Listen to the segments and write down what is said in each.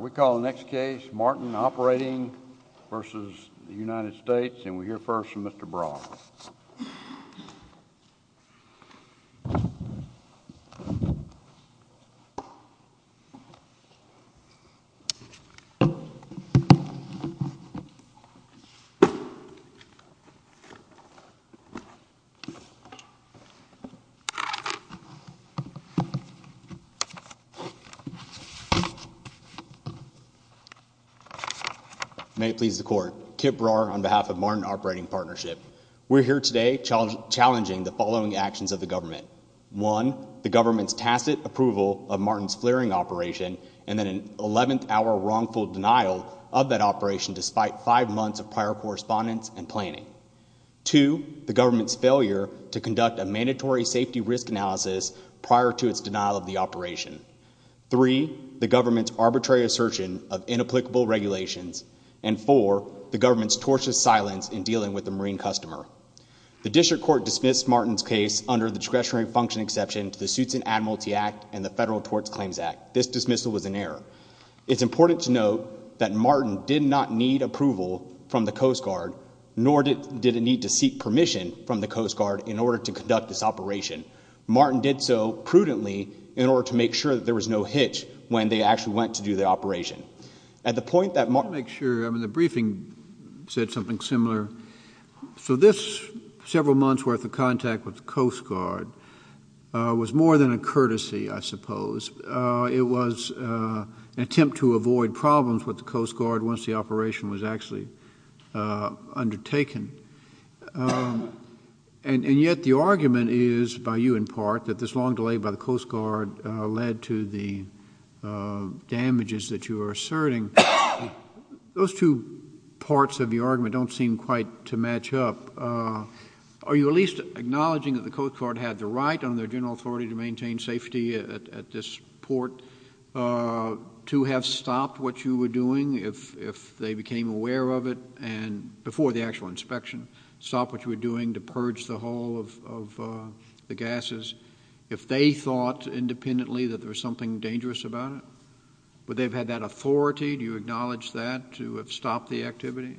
We call the next case, Martin Operating v. United States. And we'll hear first from Mr. Brouwer. May it please the court, Kip Brouwer on behalf of Martin Operating Partnership. We're here today challenging the following actions of the government. One, the government's tacit approval of Martin's flaring operation and then an 11th hour wrongful denial of that operation despite five months of prior correspondence and planning. Two, the government's failure to conduct a mandatory safety risk analysis prior to its denial of the operation. Three, the government's arbitrary assertion of inapplicable regulations. And four, the government's tortuous silence in dealing with the Marine customer. The district court dismissed Martin's case under the discretionary function exception to the Suits and Admiralty Act and the Federal Tort Claims Act. This dismissal was an error. It's important to note that Martin did not need approval from the Coast Guard, nor did it need to seek permission from the Coast Guard in order to conduct this operation. Martin did so prudently in order to make sure that there was no hitch when they actually went to do the operation. At the point that Martin... Let me make sure. I mean, the briefing said something similar. So this several months' worth of contact with the Coast Guard was more than a courtesy, I suppose. It was an attempt to avoid problems with the Coast Guard once the operation was actually undertaken. And yet the argument is, by you in part, that this long delay by the Coast Guard led to the damages that you are asserting. Those two parts of your argument don't seem quite to match up. Are you at least acknowledging that the Coast Guard had the right under their general authority to maintain safety at this port, to have stopped what you were doing if they became aware of it, and before the actual inspection, stopped what you were doing to purge the hull of the gases, if they thought independently that there was something dangerous about it? Would they have had that authority? Do you acknowledge that, to have stopped the activity?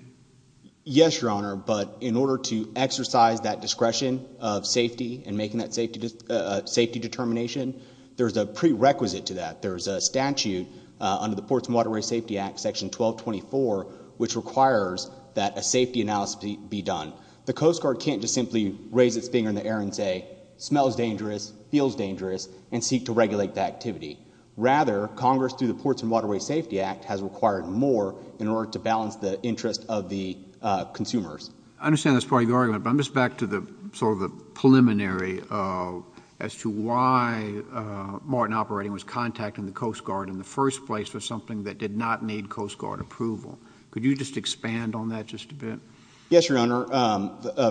Yes, Your Honor. But in order to exercise that discretion of safety and making that safety determination, there's a prerequisite to that. There's a statute under the Ports and Waterways Safety Act, Section 1224, which requires that a safety analysis be done. The Coast Guard can't just simply raise its finger in the air and say, smells dangerous, feels dangerous, and seek to regulate that activity. Rather, Congress, through the Ports and Waterways Safety Act, has required more in order to I understand that's part of your argument, but I'm just back to sort of the preliminary as to why Martin Operating was contacting the Coast Guard in the first place for something that did not need Coast Guard approval. Could you just expand on that just a bit? Yes, Your Honor.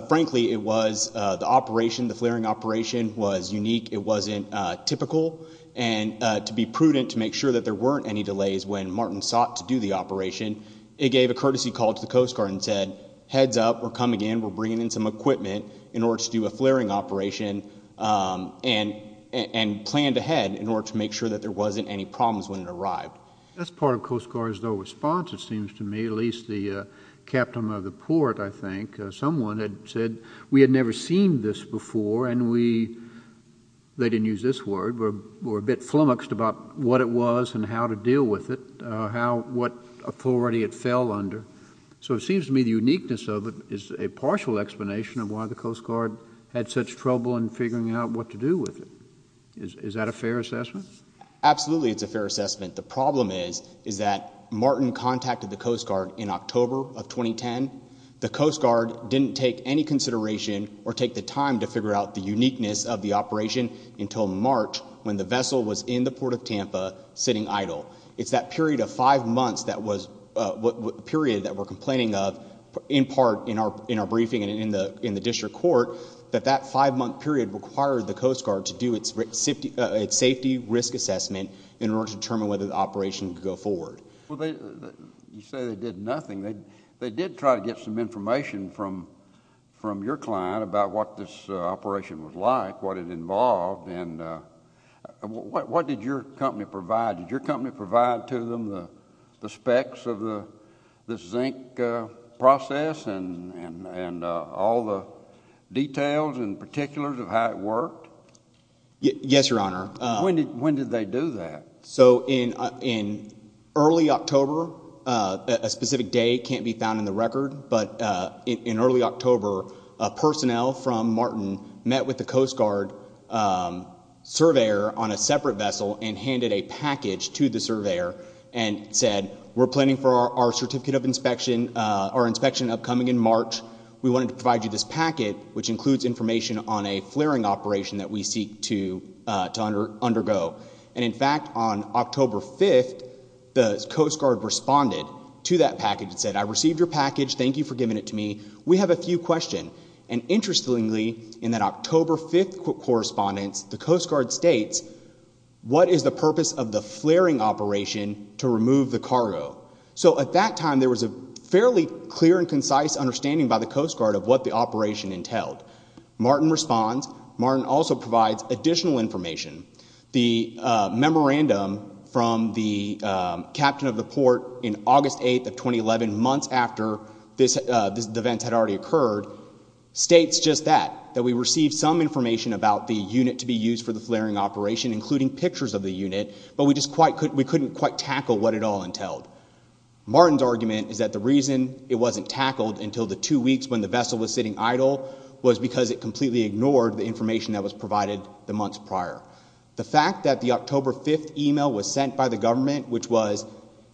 Frankly, it was the operation, the flaring operation, was unique. It wasn't typical. And to be prudent, to make sure that there weren't any delays when Martin sought to do the operation, it gave a courtesy call to the Coast Guard and said, heads up, we're coming in, we're bringing in some equipment in order to do a flaring operation, and planned ahead in order to make sure that there wasn't any problems when it arrived. That's part of Coast Guard's response, it seems to me, at least the captain of the port, I think. Someone had said, we had never seen this before, and we, they didn't use this word, were a about what it was and how to deal with it, how, what authority it fell under. So it seems to me the uniqueness of it is a partial explanation of why the Coast Guard had such trouble in figuring out what to do with it. Is that a fair assessment? Absolutely, it's a fair assessment. The problem is, is that Martin contacted the Coast Guard in October of 2010. The Coast Guard didn't take any consideration or take the time to figure out the uniqueness of the operation until March, when the vessel was in the Port of Tampa, sitting idle. It's that period of five months that was, period that we're complaining of, in part in our briefing and in the district court, that that five-month period required the Coast Guard to do its safety risk assessment in order to determine whether the operation could go forward. You say they did nothing, they did try to get some information from your client about what this operation was like, what it involved, and what did your company provide? Did your company provide to them the specs of the zinc process and all the details and particulars of how it worked? Yes, Your Honor. When did they do that? So in early October, a specific day can't be found in the record, but in early October, a personnel from Martin met with the Coast Guard surveyor on a separate vessel and handed a package to the surveyor and said, we're planning for our certificate of inspection, our inspection upcoming in March. We wanted to provide you this packet, which includes information on a flaring operation that we seek to undergo. And in fact, on October 5th, the Coast Guard responded to that package and said, I received your package. Thank you for giving it to me. We have a few questions. And interestingly, in that October 5th correspondence, the Coast Guard states, what is the purpose of the flaring operation to remove the cargo? So at that time, there was a fairly clear and concise understanding by the Coast Guard of what the operation entailed. Martin responds. Martin also provides additional information. The memorandum from the captain of the port in August 8th of 2011, months after this event had already occurred, states just that, that we received some information about the unit to be used for the flaring operation, including pictures of the unit, but we just couldn't quite tackle what it all entailed. Martin's argument is that the reason it wasn't tackled until the two weeks when the vessel was sitting idle was because it completely ignored the information that was provided the months prior. The fact that the October 5th email was sent by the government, which was,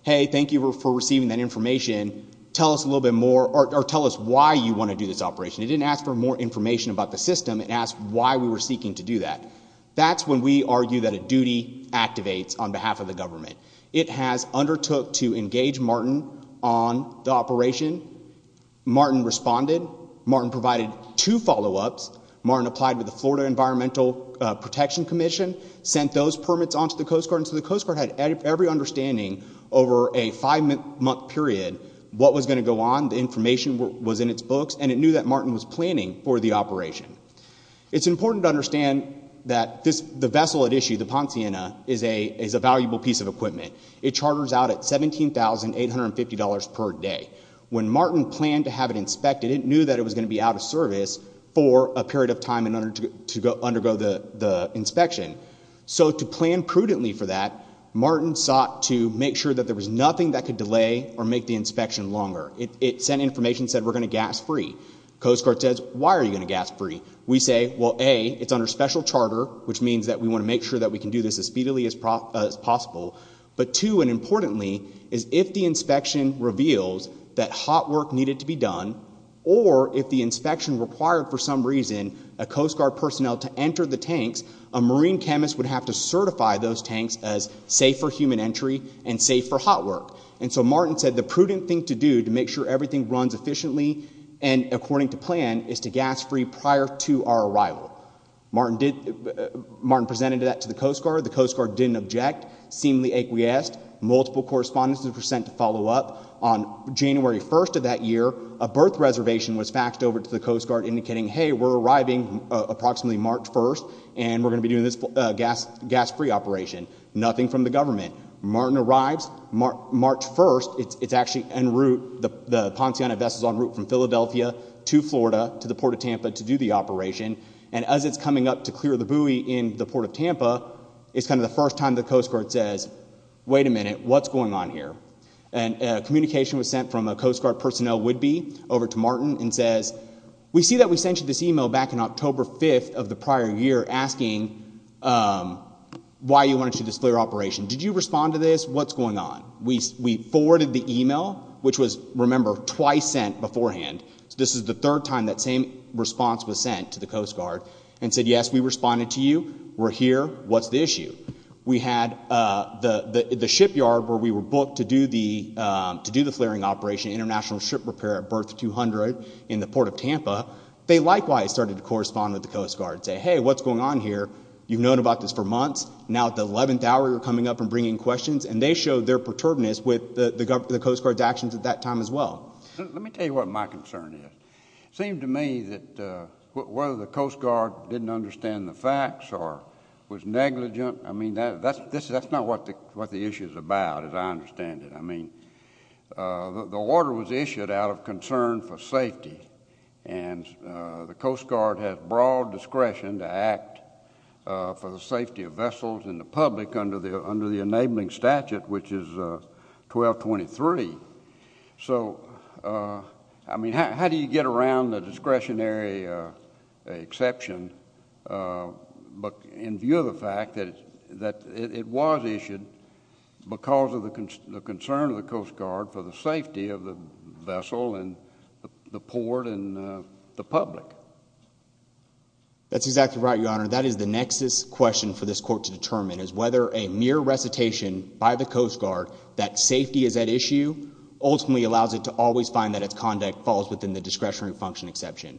hey, thank you for receiving that information, tell us a little bit more, or tell us why you want to do this operation. It didn't ask for more information about the system. It asked why we were seeking to do that. That's when we argue that a duty activates on behalf of the government. It has undertook to engage Martin on the operation. Martin responded. Martin provided two follow-ups. Martin applied with the Florida Environmental Protection Commission, sent those permits onto the Coast Guard. So the Coast Guard had every understanding over a five-month period what was going to go on. The information was in its books, and it knew that Martin was planning for the operation. It's important to understand that the vessel at issue, the Ponciana, is a valuable piece of equipment. It charters out at $17,850 per day. When Martin planned to have it inspected, it knew that it was going to be out of service for a period of time in order to undergo the inspection. So to plan prudently for that, Martin sought to make sure that there was nothing that could delay or make the inspection longer. It sent information, said, we're going to gas free. Coast Guard says, why are you going to gas free? We say, well, A, it's under special charter, which means that we want to make sure that we can do this as speedily as possible. But two, and importantly, is if the inspection reveals that hot work needed to be done, or if the inspection required, for some reason, a Coast Guard personnel to enter the tanks, a marine chemist would have to certify those tanks as safe for human entry and safe for hot work. And so Martin said the prudent thing to do to make sure everything runs efficiently and according to plan is to gas free prior to our arrival. Martin presented that to the Coast Guard. The Coast Guard didn't object, seemingly acquiesced. Multiple correspondences were sent to follow up. On January 1st of that year, a berth reservation was faxed over to the Coast Guard indicating, hey, we're arriving approximately March 1st, and we're going to be doing this gas free operation. Nothing from the government. Martin arrives March 1st. It's actually en route, the Ponceana vessel's en route from Philadelphia to Florida to the Port of Tampa to do the operation. And as it's coming up to clear the buoy in the Port of Tampa, it's kind of the first time the Coast Guard says, wait a minute, what's going on here? And communication was sent from a Coast Guard personnel would be over to Martin and says, we see that we sent you this email back in October 5th of the prior year asking why you wanted to do this clear operation. Did you respond to this? What's going on? We forwarded the email, which was, remember, twice sent beforehand. This is the third time that same response was sent to the Coast Guard and said, yes, we responded to you. We're here. What's the issue? We had the shipyard where we were booked to do the flaring operation, international ship repair at berth 200 in the Port of Tampa. They likewise started to correspond with the Coast Guard and say, hey, what's going on here? You've known about this for months. Now at the 11th hour, you're coming up and bringing questions. And they showed their perturbedness with the Coast Guard's actions at that time as well. Let me tell you what my concern is. It seemed to me that whether the Coast Guard didn't understand the facts or was negligent, I mean, that's not what the issue is about, as I understand it. I mean, the order was issued out of concern for safety, and the Coast Guard has broad discretion to act for the safety of vessels and the public under the enabling statute, which is 1223. So, I mean, how do you get around the discretionary exception in view of the fact that it was issued because of the concern of the Coast Guard for the safety of the vessel and the port and the public? That's exactly right, Your Honor. That is the nexus question for this court to determine, is whether a mere recitation by the Coast Guard that safety is at issue ultimately allows it to always find that its conduct falls within the discretionary function exception.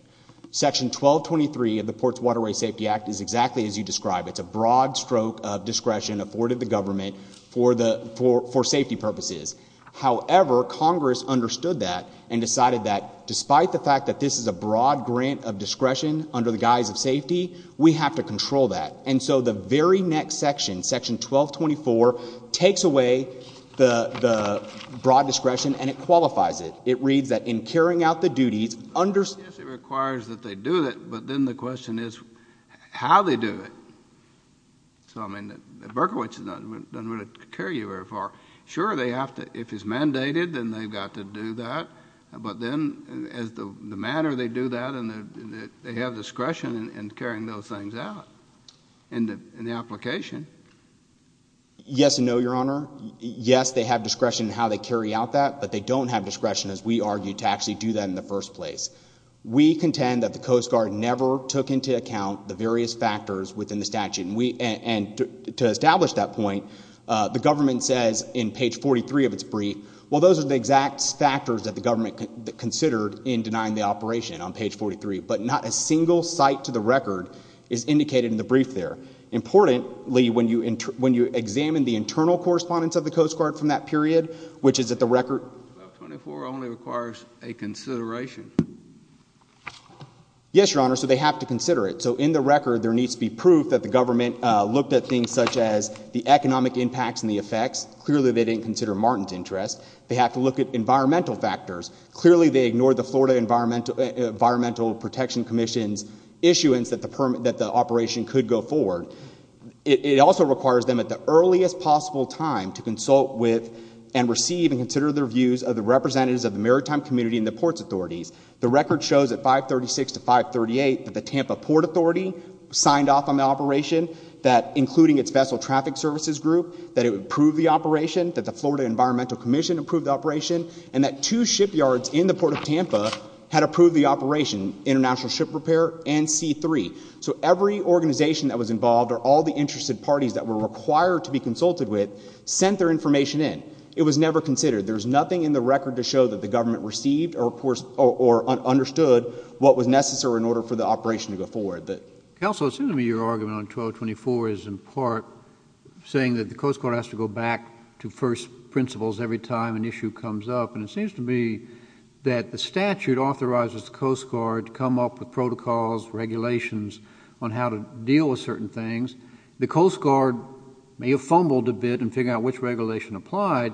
Section 1223 of the Ports and Waterways Safety Act is exactly as you described. It's a broad stroke of discretion afforded the government for safety purposes. However, Congress understood that and decided that despite the fact that this is a broad grant of discretion under the guise of safety, we have to control that. And so the very next section, section 1224, takes away the broad discretion and it qualifies it. It reads that in carrying out the duties under the... Yes, it requires that they do it, but then the question is how they do it. So, I mean, Berkowitz doesn't really carry you very far. Sure, they have to, if it's mandated, then they've got to do that, but then as the matter, they do that and they have discretion in carrying those things out in the application. Yes and no, Your Honor. Yes, they have discretion in how they carry out that, but they don't have discretion, as we argued, to actually do that in the first place. We contend that the Coast Guard never took into account the various factors within the statute and to establish that point, the government says in page 43 of its brief, well, those are the exact factors that the government considered in denying the operation on page 43. But not a single site to the record is indicated in the brief there. Importantly, when you examine the internal correspondence of the Coast Guard from that period, which is at the record... 1224 only requires a consideration. Yes, Your Honor, so they have to consider it. So in the record, there needs to be proof that the government looked at things such as the economic impacts and the effects. Clearly they didn't consider Martin's interest. They have to look at environmental factors. Clearly they ignored the Florida Environmental Protection Commission's issuance that the operation could go forward. It also requires them at the earliest possible time to consult with and receive and consider their views of the representatives of the maritime community and the ports authorities. The record shows at 536 to 538 that the Tampa Port Authority signed off on the operation, including its Vessel Traffic Services Group, that it would approve the operation, that the Florida Environmental Commission approved the operation, and that two shipyards in the Port of Tampa had approved the operation, International Ship Repair and C3. So every organization that was involved or all the interested parties that were required to be consulted with sent their information in. It was never considered. There is nothing in the record to show that the government received or understood what was necessary in order for the operation to go forward. Counsel, it seems to me your argument on 1224 is in part saying that the Coast Guard has to go back to first principles every time an issue comes up, and it seems to me that the statute authorizes the Coast Guard to come up with protocols, regulations on how to deal with certain things. The Coast Guard may have fumbled a bit in figuring out which regulation applied,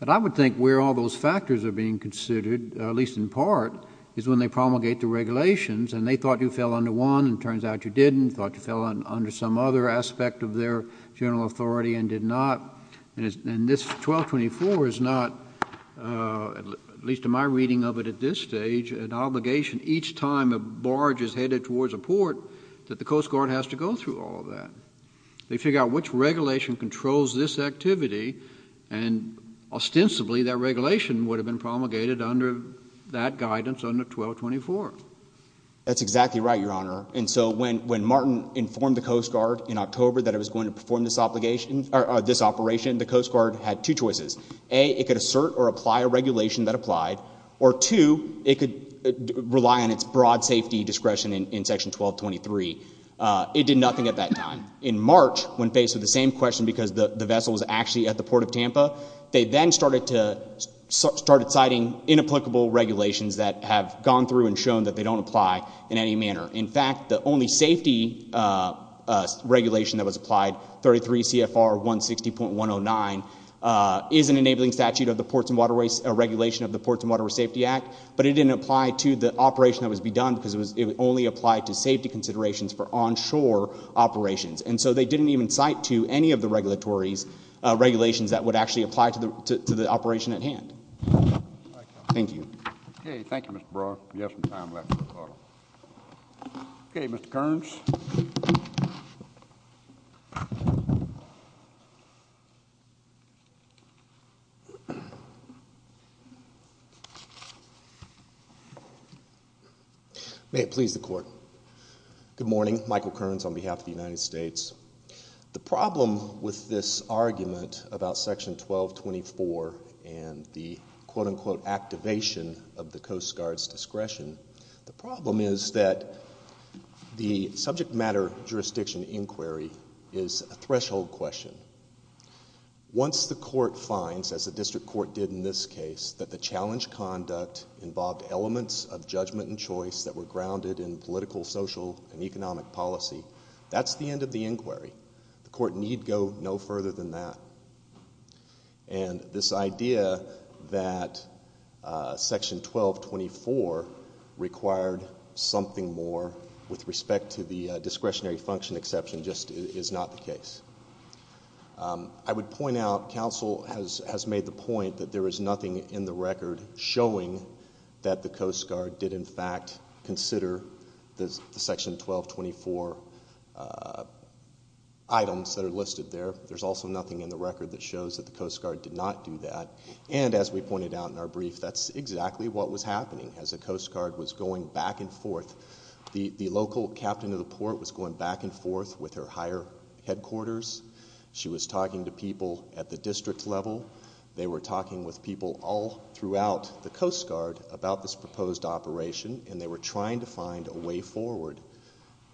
but I would think where all those factors are being considered, at least in part, is when they promulgate the regulations, and they thought you fell under one, and it turns out you didn't. They thought you fell under some other aspect of their general authority and did not. And this 1224 is not, at least in my reading of it at this stage, an obligation each time a barge is headed towards a port that the Coast Guard has to go through all of that. They figure out which regulation controls this activity, and ostensibly that regulation would have been promulgated under that guidance under 1224. That's exactly right, Your Honor. And so when Martin informed the Coast Guard in October that it was going to perform this obligation, or this operation, the Coast Guard had two choices. A, it could assert or apply a regulation that applied, or two, it could rely on its broad safety discretion in Section 1223. It did nothing at that time. In March, when faced with the same question because the vessel was actually at the Port of Tampa, they then started citing inapplicable regulations that have gone through and shown that they don't apply in any manner. In fact, the only safety regulation that was applied, 33 CFR 160.109, is an enabling statute of the Ports and Waterways, a regulation of the Ports and Waterways Safety Act, but it didn't apply to the operation that was to be done because it only applied to safety considerations for onshore operations. And so they didn't even cite to any of the regulatory regulations that would actually apply to the operation at hand. Thank you. Okay. Thank you, Mr. Brough. We have some time left for a call. Okay. Mr. Kearns. May it please the Court. Good morning. Michael Kearns on behalf of the United States. The problem with this argument about Section 1224 and the quote, unquote, activation of the Coast Guard's discretion, the problem is that the subject matter jurisdiction inquiry is a threshold question. Once the Court finds, as the District Court did in this case, that the challenge conduct involved elements of judgment and choice that were grounded in political, social, and economic policy, that's the end of the inquiry. The Court need go no further than that. And this idea that Section 1224 required something more with respect to the discretionary function exception just is not the case. I would point out, counsel has made the point that there is nothing in the record showing that the Coast Guard did, in fact, consider the Section 1224 items that are listed there. There's also nothing in the record that shows that the Coast Guard did not do that. And as we pointed out in our brief, that's exactly what was happening as the Coast Guard was going back and forth. The local captain of the port was going back and forth with her higher headquarters. She was talking to people at the district level. They were talking with people all throughout the Coast Guard about this proposed operation and they were trying to find a way forward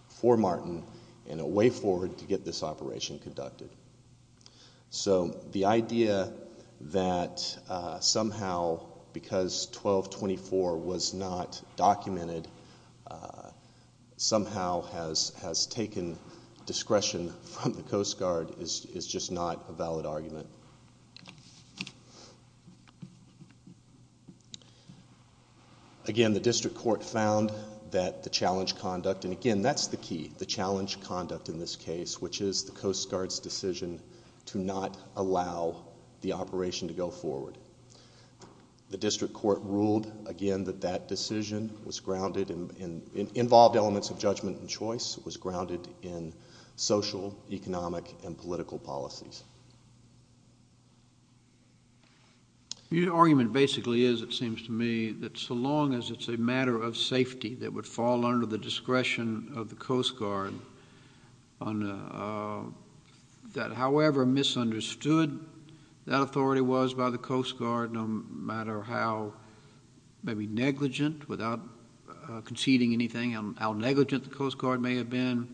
for Martin and a way forward to get this operation conducted. So the idea that somehow, because 1224 was not documented, somehow has taken discretion from the Coast Guard is just not a valid argument. Again, the District Court found that the challenge conduct, and again, that's the key, the challenge was the Coast Guard's decision to not allow the operation to go forward. The District Court ruled, again, that that decision was grounded in, involved elements of judgment and choice, was grounded in social, economic, and political policies. Your argument basically is, it seems to me, that so long as it's a matter of safety that it would fall under the discretion of the Coast Guard, that however misunderstood that authority was by the Coast Guard, no matter how maybe negligent, without conceding anything, how negligent the Coast Guard may have been,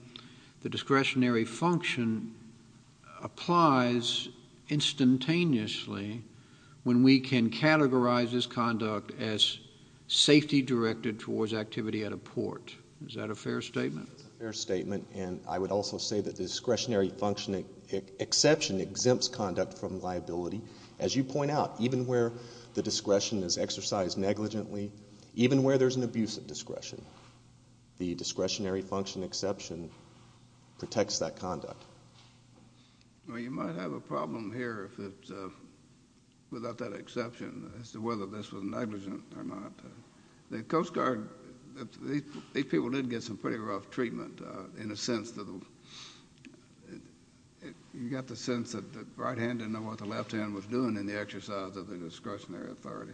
the discretionary function applies instantaneously when we can categorize this conduct as safety directed towards activity at a port. Is that a fair statement? It's a fair statement, and I would also say that the discretionary function exception exempts conduct from liability. As you point out, even where the discretion is exercised negligently, even where there's an abuse of discretion, the discretionary function exception protects that conduct. Well, you might have a problem here, without that exception, as to whether this was negligent or not. The Coast Guard, these people did get some pretty rough treatment, in a sense, you got the sense that the right hand didn't know what the left hand was doing in the exercise of the discretionary authority.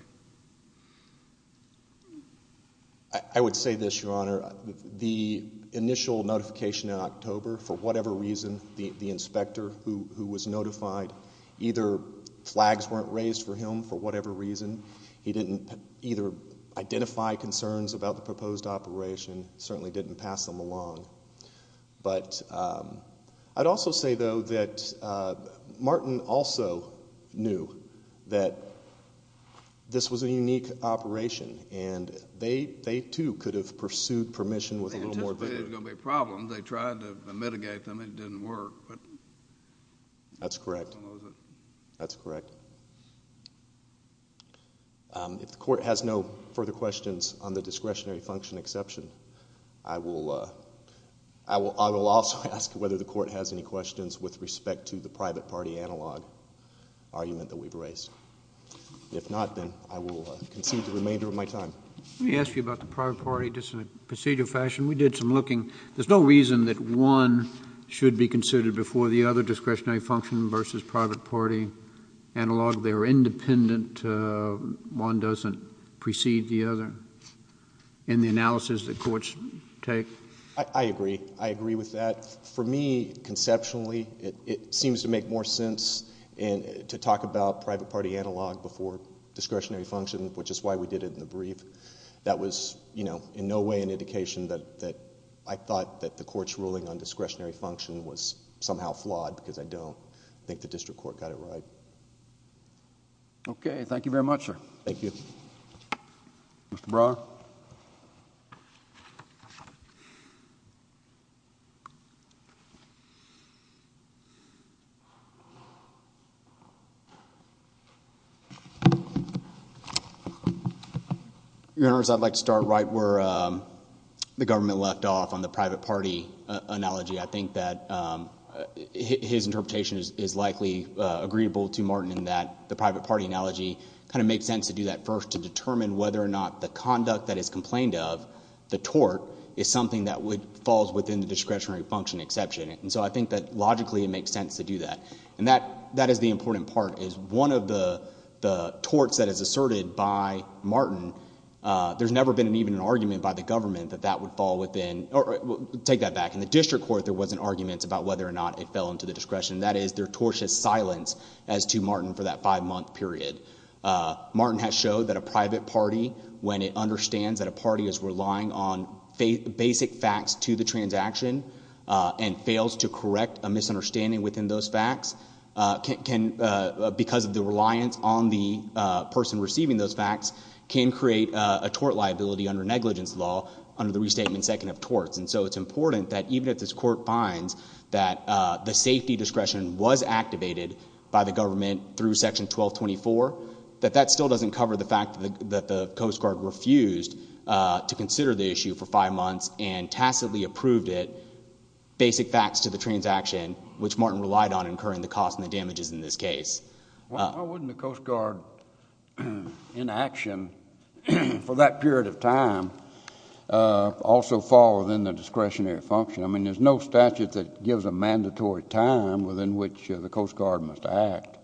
I would say this, Your Honor, the initial notification in October, for whatever reason, the inspector who was notified, either flags weren't raised for him for whatever reason, he didn't either identify concerns about the proposed operation, certainly didn't pass them along. I'd also say, though, that Martin also knew that this was a unique operation, and they too could have pursued permission with a little more vigor. They anticipated it was going to be a problem, they tried to mitigate them, it didn't work. That's correct. That's correct. If the court has no further questions on the discretionary function exception, I will also ask whether the court has any questions with respect to the private party analog argument that we've raised. If not, then I will concede the remainder of my time. Let me ask you about the private party, just in a procedural fashion. We did some looking. There's no reason that one should be considered before the other discretionary function versus private party analog. They're independent, one doesn't precede the other, in the analysis that courts take. I agree. I agree with that. For me, conceptually, it seems to make more sense to talk about private party analog before discretionary function, which is why we did it in the brief. That was, you know, in no way an indication that I thought that the court's ruling on discretionary function was somehow flawed, because I don't think the district court got it right. Okay. Thank you very much, sir. Thank you. Mr. Brough? Your Honors, I'd like to start right where the government left off on the private party analogy. I think that his interpretation is likely agreeable to Martin in that the private party analogy kind of makes sense to do that first to determine whether or not the conduct that is complained of, the tort, is something that falls within the discretionary function exception. I think that logically it makes sense to do that. That is the important part, is one of the torts that is asserted by Martin, there's never been even an argument by the government that that would fall within... take that back. In the district court, there wasn't arguments about whether or not it fell into the discretion. That is their tortious silence as to Martin for that five-month period. Martin has showed that a private party, when it understands that a party is relying on basic facts to the transaction and fails to correct a misunderstanding within those facts, because of the reliance on the person receiving those facts, can create a tort liability under negligence law under the Restatement Second of Torts. It's important that even if this court finds that the safety discretion was activated by the government through Section 1224, that that still doesn't cover the fact that the Coast Guard refused to consider the issue for five months and tacitly approved it, basic facts to the transaction, which Martin relied on incurring the cost and the damages in this case. Why wouldn't the Coast Guard, in action for that period of time, also fall within the discretionary function? I mean, there's no statute that gives a mandatory time within which the Coast Guard must act.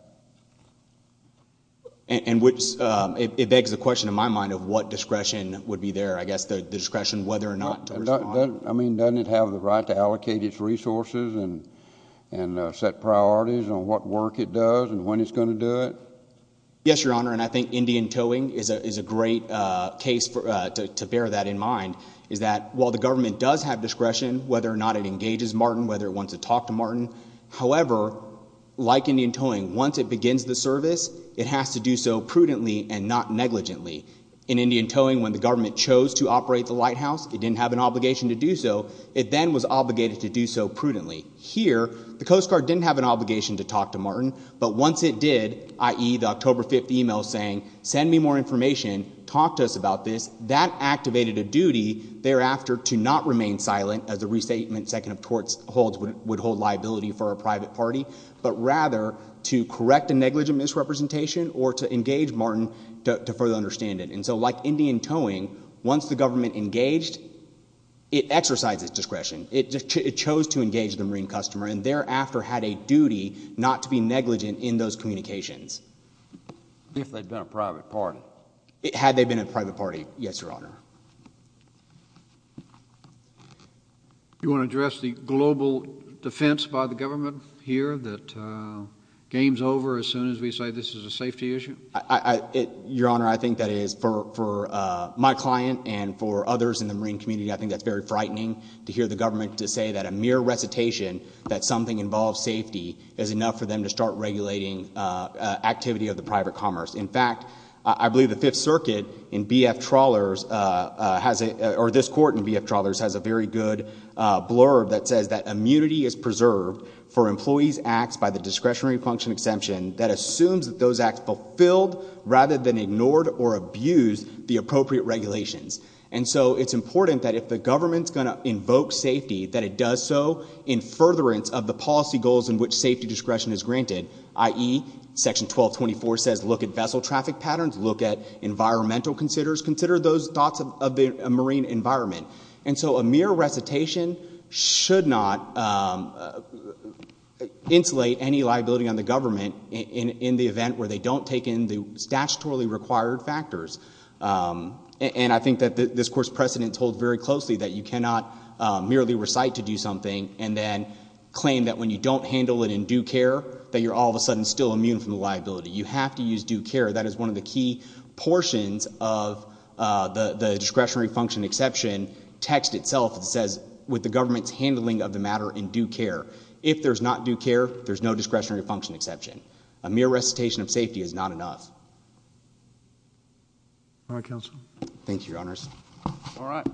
It begs the question in my mind of what discretion would be there, I guess the discretion whether or not to respond. I mean, doesn't it have the right to allocate its resources and set priorities on what work it does and when it's going to do it? Yes, Your Honor, and I think Indian towing is a great case to bear that in mind, is that while the government does have discretion, whether or not it engages Martin, whether it wants to talk to Martin, however, like Indian towing, once it begins the service, it has to do so prudently and not negligently. In Indian towing, when the government chose to operate the lighthouse, it didn't have an obligation to do so. It then was obligated to do so prudently. Here, the Coast Guard didn't have an obligation to talk to Martin, but once it did, i.e., the October 5th email saying, send me more information, talk to us about this, that activated a duty thereafter to not remain silent, as the restatement second of torts holds would hold liability for a private party, but rather to correct a negligent misrepresentation or to engage Martin to further understand it. And so like Indian towing, once the government engaged, it exercised its discretion. It chose to engage the Marine customer and thereafter had a duty not to be negligent in those communications. If they'd been a private party. Had they been a private party, yes, Your Honor. You want to address the global defense by the government here that game's over as soon as we say this is a safety issue? Your Honor, I think that is, for my client and for others in the Marine community, I don't want the government to say that a mere recitation that something involves safety is enough for them to start regulating activity of the private commerce. In fact, I believe the Fifth Circuit in BF Trawlers has a, or this court in BF Trawlers has a very good blurb that says that immunity is preserved for employees' acts by the discretionary function exemption that assumes that those acts fulfilled rather than ignored or abused the appropriate regulations. And so it's important that if the government's going to invoke safety, that it does so in furtherance of the policy goals in which safety discretion is granted, i.e. section 1224 says look at vessel traffic patterns, look at environmental considers, consider those thoughts of the Marine environment. And so a mere recitation should not insulate any liability on the government in the event where they don't take in the statutorily required factors. And I think that this court's precedent holds very closely that you cannot merely recite to do something and then claim that when you don't handle it in due care, that you're all of a sudden still immune from the liability. You have to use due care. That is one of the key portions of the discretionary function exception text itself that says, with the government's handling of the matter in due care. If there's not due care, there's no discretionary function exception. A mere recitation of safety is not enough. All right, counsel. Thank you, your honors. All right.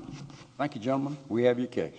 Thank you, gentlemen. We have your case.